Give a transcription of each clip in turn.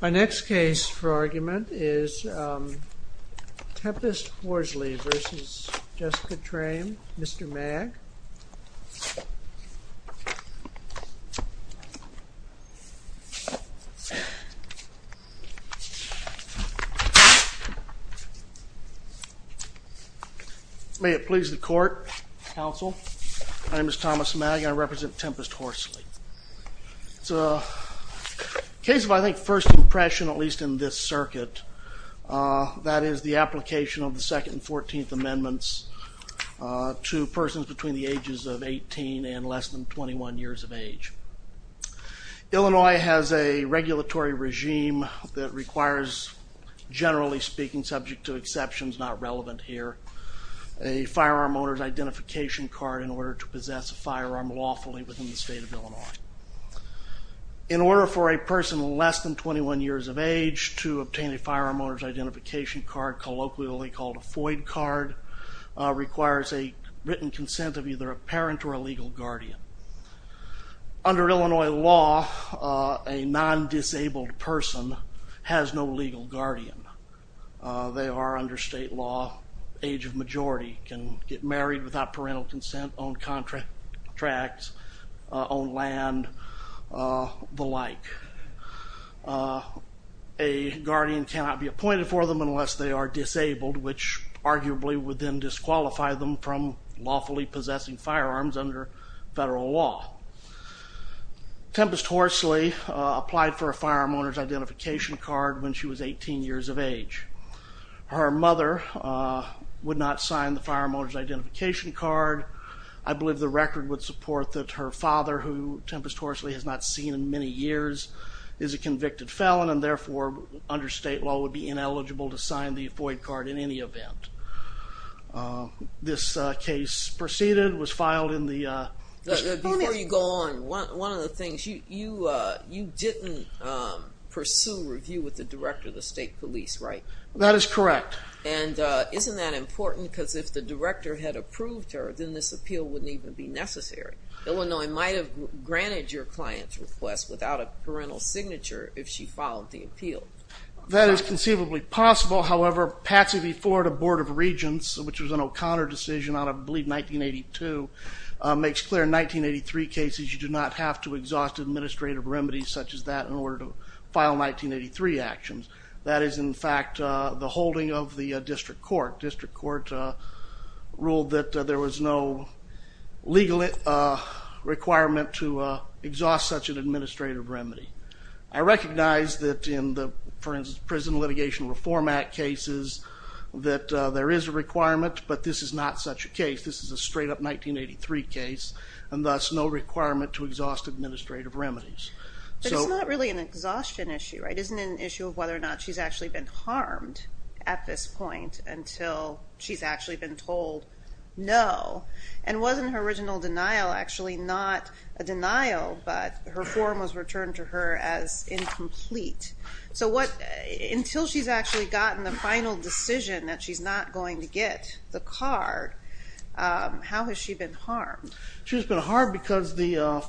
My next case for argument is Tempest Horsley v. Jessica Trame, Mr. Mag. May it please the court, counsel. My name is Thomas Mag and I represent Tempest Horsley. It's a case of I think first impression, at least in this circuit, that is the application of the 2nd and 14th Amendments to persons between the ages of 18 and less than 21 years of age. Illinois has a regulatory regime that requires, generally speaking, subject to exceptions not relevant here, a firearm owner's identification card in order to possess a firearm lawfully within the state of Illinois. In order for a person less than 21 years of age to obtain a firearm owner's identification card, colloquially called a FOID card, requires a written consent of either a parent or a legal guardian. Under Illinois law, a non-disabled person has no legal guardian. They are, under state law, age of majority, can get married without parental consent, own contracts, own land, the like. A guardian cannot be appointed for them unless they are disabled, which arguably would then disqualify them from lawfully possessing firearms under federal law. Tempest Horsley applied for a firearm owner's identification card when she was 18 years of age. Her mother would not sign the firearm owner's identification card. I believe the record would support that her father, who Tempest Horsley has not seen in many years, is a convicted felon and therefore, under state law, would be ineligible to sign the FOID card in any event. This case proceeded, was filed in the... Before you go on, one of the things, you didn't pursue review with the director of the state police, right? That is correct. And isn't that important? Because if the director had approved her, then this appeal wouldn't even be necessary. Illinois might have granted your client's request without a parental signature if she filed the appeal. That is conceivably possible, however, Patsy v. Florida Board of Regents, which was an O'Connor decision out of, I believe, 1982, makes clear in 1983 cases you do not have to exhaust administrative remedies such as that in order to file 1983 actions. That is, in fact, the holding of the district court. District court ruled that there was no legal requirement to exhaust such an administrative remedy. I recognize that in the, for instance, Prison Litigation Reform Act cases, that there is a requirement, but this is not such a case. This is a straight-up 1983 case and thus no requirement to exhaust administrative remedies. But it's not really an exhaustion issue, right? It isn't an issue of whether or not she's actually been harmed at this point until she's actually been told no. And wasn't her original denial actually not a denial, but her form was returned to her as incomplete? So until she's actually gotten the final decision that she's not going to get the card, how has she been harmed? She's been harmed because the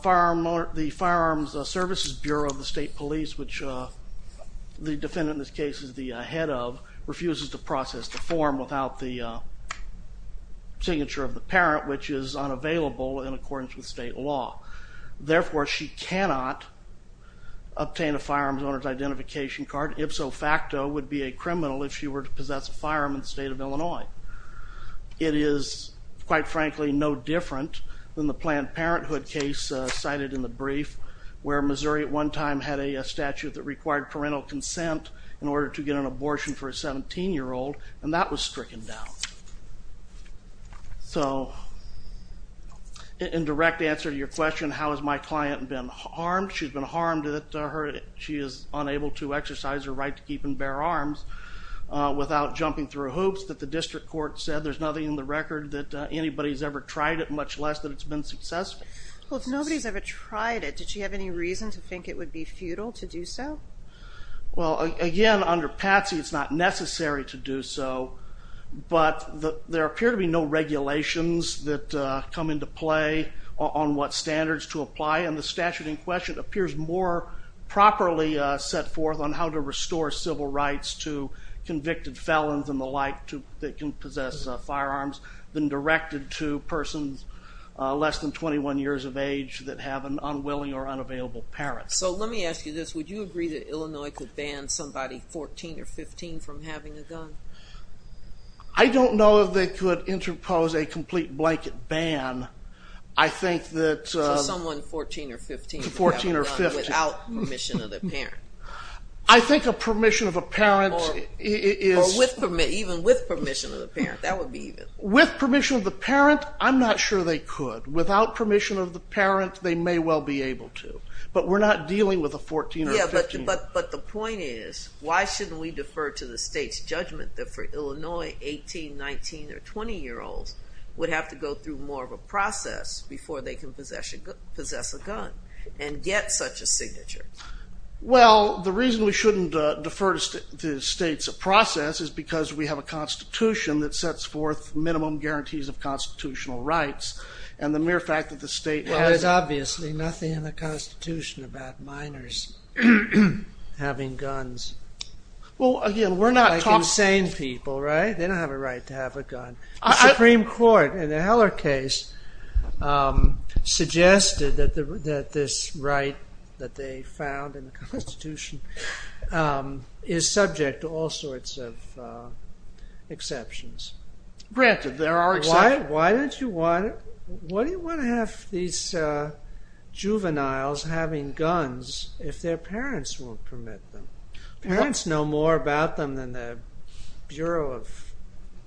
Firearms Services Bureau of the State Police, which the defendant in this case is the head of, refuses to process the form without the signature of the parent, which is unavailable in accordance with state law. Therefore, she cannot obtain a firearms owner's identification card, if so facto, would be a criminal if she were to possess a firearm in the state of Illinois. It is, quite frankly, no different than the Planned Parenthood case cited in the brief, where Missouri at one time had a statute that required parental consent in order to get an abortion for a 17-year-old, and that was stricken down. So, in direct answer to your question, how has my client been harmed? She's been harmed that she is unable to exercise her right to keep and bear arms without jumping through hoops, that the district court said there's nothing in the record that anybody's ever tried it, much less that it's been successful. Well, if nobody's ever tried it, did she have any reason to think it would be futile to do so? Well, again, under Patsy, it's not necessary to do so, but there appear to be no regulations that come into play on what standards to apply, and the statute in question appears more properly set forth on how to restore civil rights to convicted felons and the like that can possess firearms than directed to persons less than 21 years of age that have an unwilling or unavailable parent. So, let me ask you this. Would you agree that Illinois could ban somebody 14 or 15 from having a gun? I don't know if they could interpose a complete blanket ban. I think that... So, someone 14 or 15 could have a gun without permission of their parent? I think a permission of a parent is... Or even with permission of the parent, that would be even. With permission of the parent, I'm not sure they could. Without permission of the parent, they may well be able to. But we're not dealing with a 14 or 15. Yeah, but the point is, why shouldn't we defer to the state's judgment that for Illinois, 18, 19, or 20-year-olds would have to go through more of a process before they can possess a gun and get such a signature? Well, the reason we shouldn't defer to the state's process is because we have a constitution that sets forth minimum guarantees of constitutional rights, and the mere fact that the state... Well, there's obviously nothing in the constitution about minors having guns. Well, again, we're not talking... ...that they found in the constitution is subject to all sorts of exceptions. Granted, there are exceptions. Why don't you want... Why do you want to have these juveniles having guns if their parents won't permit them? Parents know more about them than the Bureau of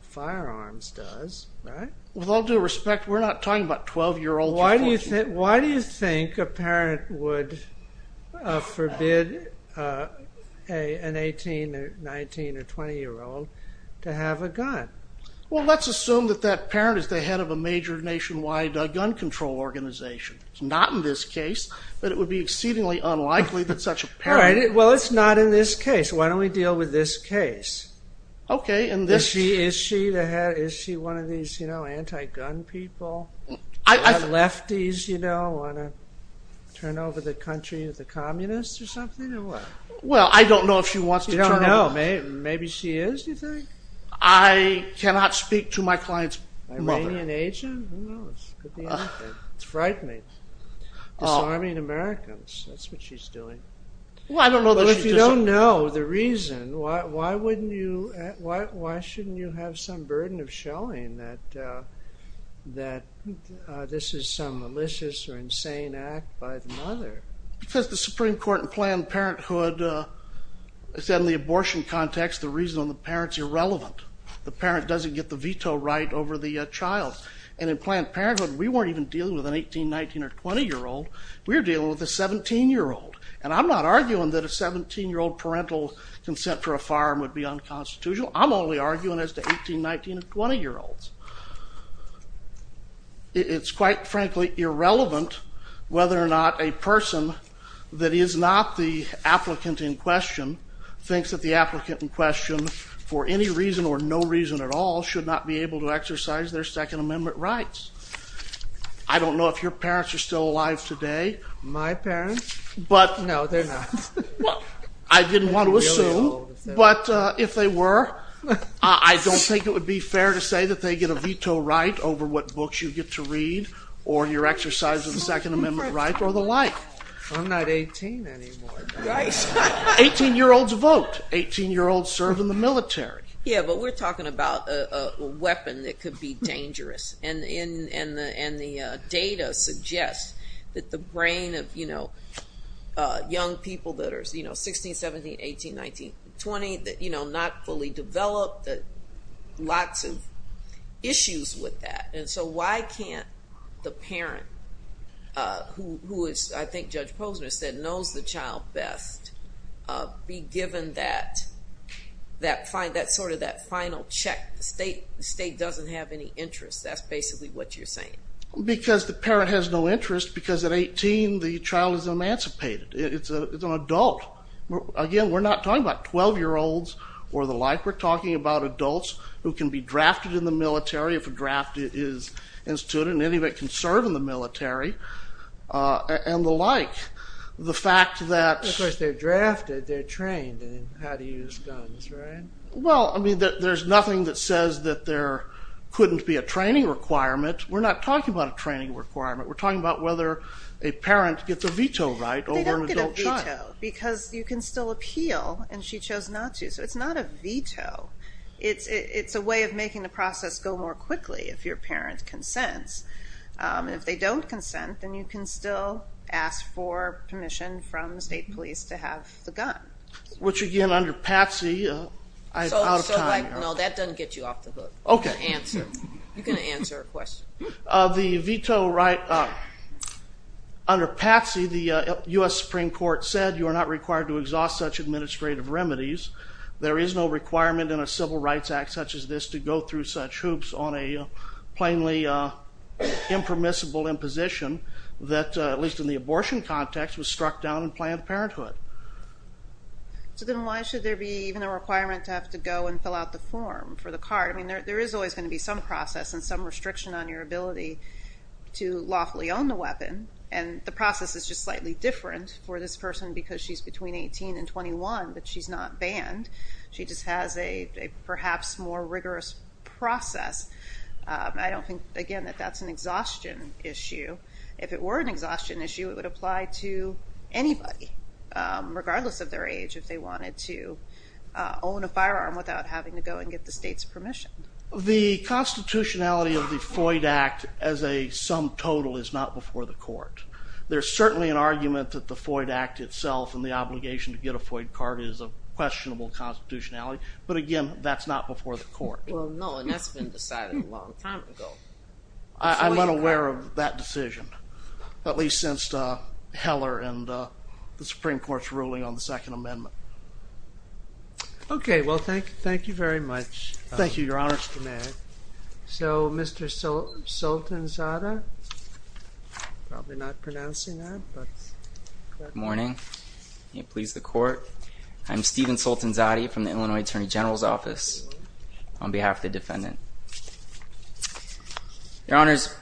Firearms does, right? With all due respect, we're not talking about 12-year-olds or 14-year-olds. Why do you think a parent would forbid an 18, 19, or 20-year-old to have a gun? Well, let's assume that that parent is the head of a major nationwide gun control organization. It's not in this case, but it would be exceedingly unlikely that such a parent... Well, it's not in this case. Why don't we deal with this case? Okay, and this... Is she one of these anti-gun people? Lefties, you know, want to turn over the country to the communists or something, or what? Well, I don't know if she wants to turn over... You don't know? Maybe she is, do you think? I cannot speak to my client's mother. Iranian agent? Who knows? Could be anything. It's frightening. Disarming Americans, that's what she's doing. Well, I don't know that she does... I don't know the reason. Why shouldn't you have some burden of showing that this is some malicious or insane act by the mother? Because the Supreme Court in Planned Parenthood said in the abortion context the reason on the parent is irrelevant. The parent doesn't get the veto right over the child. And in Planned Parenthood, we weren't even dealing with an 18, 19, or 20-year-old. We were dealing with a 17-year-old. And I'm not arguing that a 17-year-old parental consent for a firearm would be unconstitutional. I'm only arguing as to 18, 19, and 20-year-olds. It's quite frankly irrelevant whether or not a person that is not the applicant in question thinks that the applicant in question, for any reason or no reason at all, should not be able to exercise their Second Amendment rights. I don't know if your parents are still alive today. My parents? No, they're not. I didn't want to assume. But if they were, I don't think it would be fair to say that they get a veto right over what books you get to read or your exercise of the Second Amendment right or the like. I'm not 18 anymore. 18-year-olds vote. 18-year-olds serve in the military. Yeah, but we're talking about a weapon that could be dangerous. And the data suggests that the brain of young people that are 16, 17, 18, 19, 20, not fully developed, lots of issues with that. And so why can't the parent, who is, I think Judge Posner said, knows the child best, be given that final check? The state doesn't have any interest. That's basically what you're saying. Because the parent has no interest, because at 18, the child is emancipated. It's an adult. Again, we're not talking about 12-year-olds or the like. We're talking about adults who can be drafted in the military if a draft is instituted. And any of it can serve in the military and the like. Of course, they're drafted. They're trained in how to use guns, right? Well, I mean, there's nothing that says that there couldn't be a training requirement. We're not talking about a training requirement. We're talking about whether a parent gets a veto right over an adult child. They don't get a veto, because you can still appeal, and she chose not to. So it's not a veto. It's a way of making the process go more quickly if your parent consents. And if they don't consent, then you can still ask for permission from the state police to have the gun. Which, again, under Patsy, I'm out of time here. No, that doesn't get you off the hook. Answer. You can answer a question. The veto right, under Patsy, the U.S. Supreme Court said you are not required to exhaust such administrative remedies. There is no requirement in a civil rights act such as this to go through such hoops on a plainly impermissible imposition that, at least in the abortion context, was struck down in Planned Parenthood. So then why should there be even a requirement to have to go and fill out the form for the card? I mean, there is always going to be some process and some restriction on your ability to lawfully own the weapon, and the process is just slightly different for this person because she's between 18 and 21, but she's not banned. She just has a perhaps more rigorous process. I don't think, again, that that's an exhaustion issue. If it were an exhaustion issue, it would apply to anybody, regardless of their age, if they wanted to own a firearm without having to go and get the state's permission. The constitutionality of the FOID Act as a sum total is not before the court. There's certainly an argument that the FOID Act itself and the obligation to get a FOID card is a questionable constitutionality, but, again, that's not before the court. Well, no, and that's been decided a long time ago. I'm unaware of that decision, at least since Heller and the Supreme Court's ruling on the Second Amendment. Okay, well, thank you very much. Thank you, Your Honor. So, Mr. Sultanzadeh, I'm probably not pronouncing that. Good morning, and please the court. I'm Stephen Sultanzadeh from the Illinois Attorney General's Office on behalf of the defendant. Your Honors,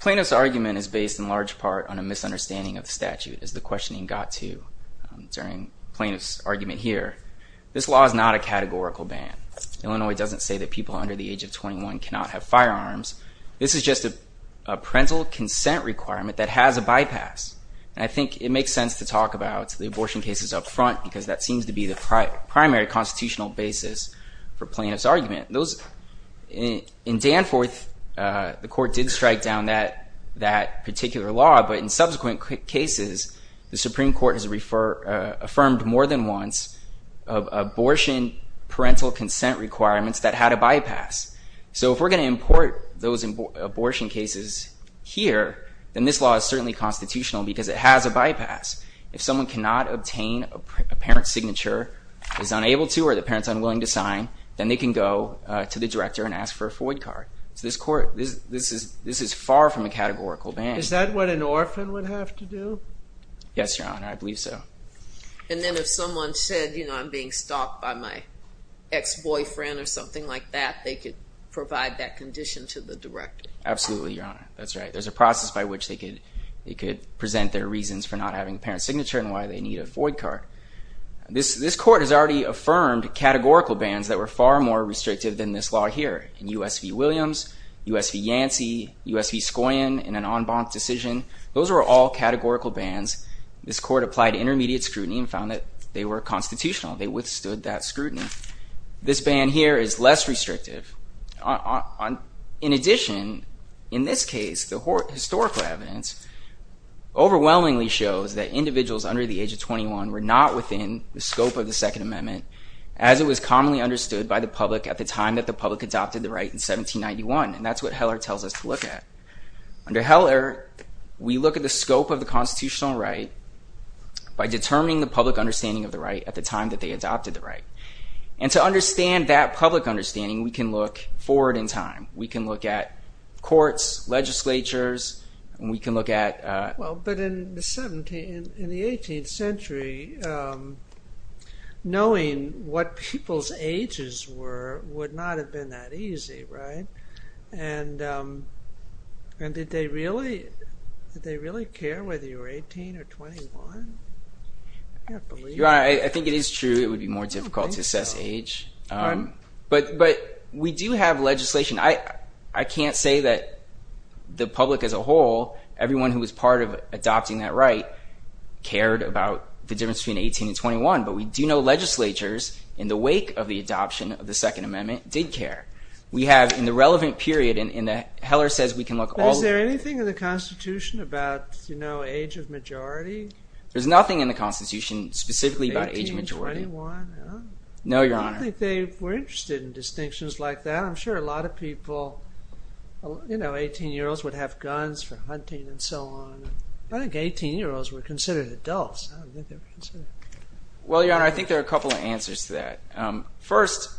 plaintiff's argument is based in large part on a misunderstanding of the statute, as the questioning got to during plaintiff's argument here. This law is not a categorical ban. Illinois doesn't say that people under the age of 21 cannot have firearms. This is just a parental consent requirement that has a bypass, and I think it makes sense to talk about the abortion cases up front In Danforth, the court did strike down that particular law, but in subsequent cases, the Supreme Court has affirmed more than once abortion parental consent requirements that had a bypass. So if we're going to import those abortion cases here, then this law is certainly constitutional because it has a bypass. If someone cannot obtain a parent's signature, is unable to, or the parent's unwilling to sign, then they can go to the director and ask for a FOID card. So this court, this is far from a categorical ban. Is that what an orphan would have to do? Yes, Your Honor, I believe so. And then if someone said, you know, I'm being stopped by my ex-boyfriend or something like that, they could provide that condition to the director? Absolutely, Your Honor, that's right. There's a process by which they could present their reasons for not having a parent's signature and why they need a FOID card. This court has already affirmed categorical bans that were far more restrictive than this law here. In U.S. v. Williams, U.S. v. Yancey, U.S. v. Skoyan, in an en banc decision, those were all categorical bans. This court applied intermediate scrutiny and found that they were constitutional. They withstood that scrutiny. This ban here is less restrictive. In addition, in this case, the historical evidence overwhelmingly shows that individuals under the age of 21 were not within the scope of the Second Amendment, as it was commonly understood by the public at the time that the public adopted the right in 1791. And that's what Heller tells us to look at. Under Heller, we look at the scope of the constitutional right by determining the public understanding of the right at the time that they adopted the right. And to understand that public understanding, we can look forward in time. We can look at courts, legislatures, and we can look at... Well, but in the 18th century, knowing what people's ages were would not have been that easy, right? And did they really care whether you were 18 or 21? I can't believe it. Your Honor, I think it is true it would be more difficult to assess age. But we do have legislation. I can't say that the public as a whole, everyone who was part of adopting that right, cared about the difference between 18 and 21. But we do know legislatures, in the wake of the adoption of the Second Amendment, did care. We have, in the relevant period, and Heller says we can look all... Is there anything in the Constitution about age of majority? There's nothing in the Constitution specifically about age of majority. 18, 21? No, Your Honor. I don't think they were interested in distinctions like that. I'm sure a lot of people, you know, 18-year-olds would have guns for hunting and so on. I think 18-year-olds were considered adults. Well, Your Honor, I think there are a couple of answers to that. First,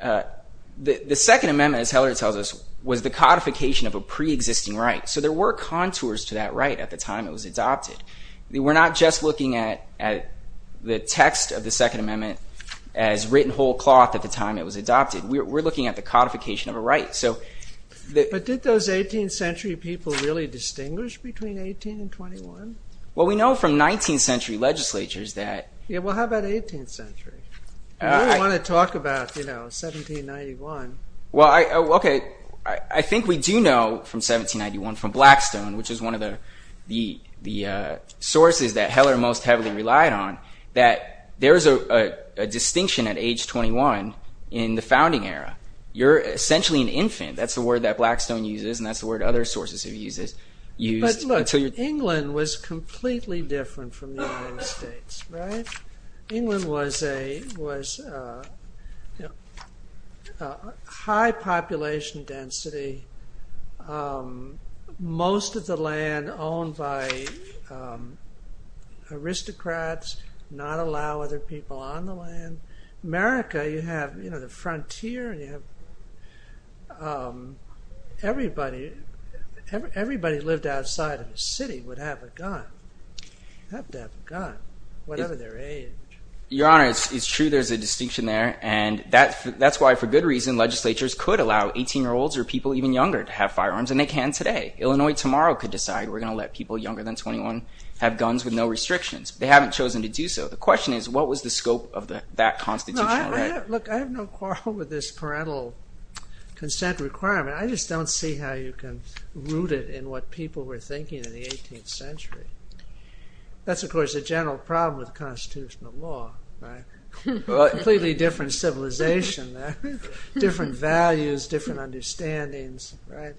the Second Amendment, as Heller tells us, was the codification of a pre-existing right. So there were contours to that right at the time it was adopted. We're not just looking at the text of the Second Amendment as written whole cloth at the time it was adopted. We're looking at the codification of a right. But did those 18th century people really distinguish between 18 and 21? Well, we know from 19th century legislatures that... Yeah, well, how about 18th century? We don't want to talk about, you know, 1791. Well, okay. I think we do know from 1791, from Blackstone, which is one of the sources that Heller most heavily relied on, that there is a distinction at age 21 in the founding era. You're essentially an infant. That's the word that Blackstone uses, and that's the word other sources have used. But look, England was completely different from the United States, right? England was high population density. Most of the land owned by aristocrats, not allow other people on the land. America, you have, you know, the frontier, and you have... Everybody lived outside of the city would have a gun. They'd have to have a gun, whatever their age. Your Honor, it's true there's a distinction there. And that's why, for good reason, legislatures could allow 18-year-olds or people even younger to have firearms, and they can today. Illinois tomorrow could decide we're going to let people younger than 21 have guns with no restrictions. They haven't chosen to do so. The question is, what was the scope of that constitutional right? Look, I have no quarrel with this parental consent requirement. I just don't see how you can root it in what people were thinking in the 18th century. That's, of course, a general problem with constitutional law, right? Completely different civilization there. Different values, different understandings, right?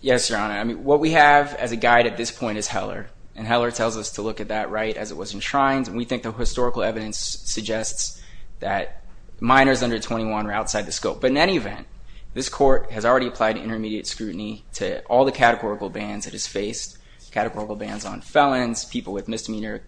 Yes, Your Honor. I mean, what we have as a guide at this point is Heller. And Heller tells us to look at that right as it was enshrined. And we think the historical evidence suggests that minors under 21 are outside the scope. But in any event, this Court has already applied intermediate scrutiny to all the categorical bans it has faced, categorical bans on felons, people with misdemeanor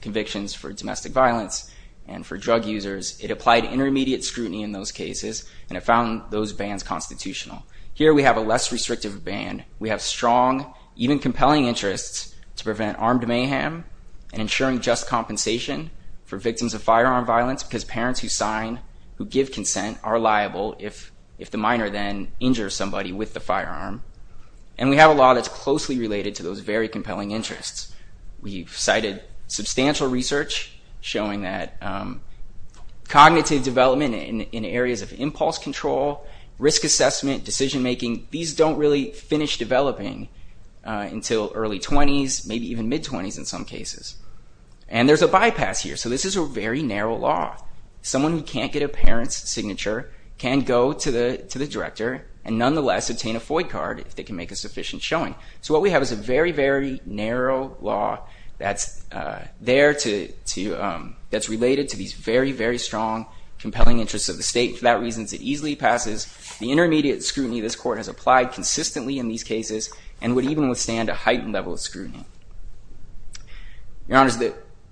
convictions for domestic violence, and for drug users. It applied intermediate scrutiny in those cases, and it found those bans constitutional. Here we have a less restrictive ban. We have strong, even compelling, interests to prevent armed mayhem and ensuring just compensation for victims of firearm violence because parents who sign, who give consent, are liable if the minor then injures somebody with the firearm. And we have a law that's closely related to those very compelling interests. We've cited substantial research showing that cognitive development in areas of impulse control, risk assessment, decision-making, these don't really finish developing until early 20s, maybe even mid-20s in some cases. And there's a bypass here. So this is a very narrow law. Someone who can't get a parent's signature can go to the director and nonetheless obtain a FOI card if they can make a sufficient showing. So what we have is a very, very narrow law that's there to, that's related to these very, very strong, compelling interests of the state. For that reason, it easily passes. The intermediate scrutiny this Court has applied consistently in these cases and would even withstand a heightened level of scrutiny. Your Honors,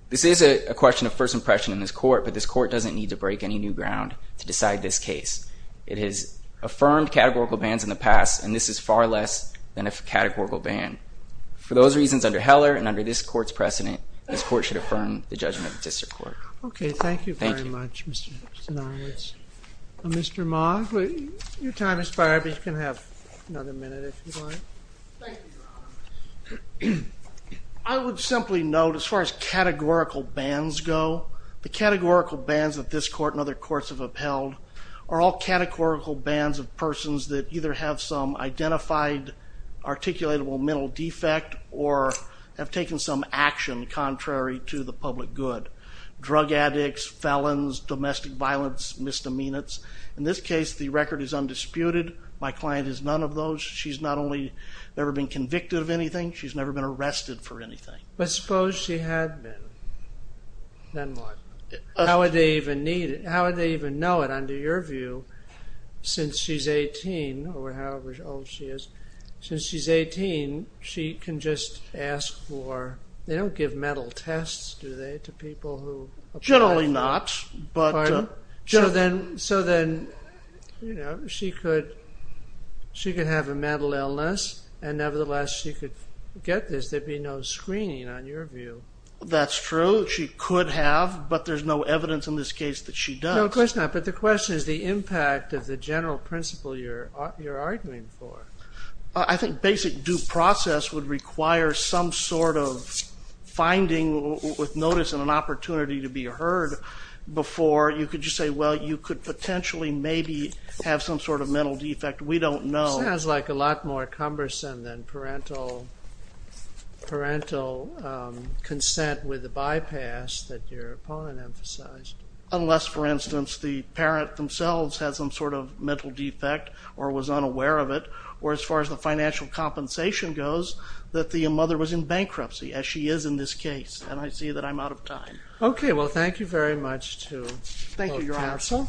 this is a question of first impression in this Court, but this Court doesn't need to break any new ground to decide this case. It has affirmed categorical bans in the past, and this is far less than a categorical ban. For those reasons, under Heller and under this Court's precedent, this Court should affirm the judgment of the District Court. Okay, thank you very much, Mr. Stonowitz. Mr. Maughan, your time has expired, but you can have another minute if you'd like. Thank you, Your Honors. I would simply note, as far as categorical bans go, the categorical bans that this Court and other courts have upheld are all categorical bans of persons that either have some identified, articulatable mental defect or have taken some action contrary to the public good. Drug addicts, felons, domestic violence, misdemeanors. In this case, the record is undisputed. My client is none of those. She's not only never been convicted of anything, she's never been arrested for anything. But suppose she had been. Then what? How would they even know it, under your view, since she's 18 or however old she is? Since she's 18, she can just ask for... They don't give mental tests, do they, to people who... Generally not, but... Pardon? So then, you know, she could have a mental illness and nevertheless she could get this. There'd be no screening, on your view. That's true. She could have, but there's no evidence in this case that she does. No, of course not. But the question is the impact of the general principle you're arguing for. I think basic due process would require some sort of finding with notice and an opportunity to be heard. Before you could just say, well, you could potentially maybe have some sort of mental defect. We don't know. Sounds like a lot more cumbersome than parental consent with a bypass that your opponent emphasized. Unless, for instance, the parent themselves has some sort of mental defect or was unaware of it or as far as the financial compensation goes, that the mother was in bankruptcy, as she is in this case. And I see that I'm out of time. Okay. Well, thank you very much to both counsel. Thank you, Your Honor.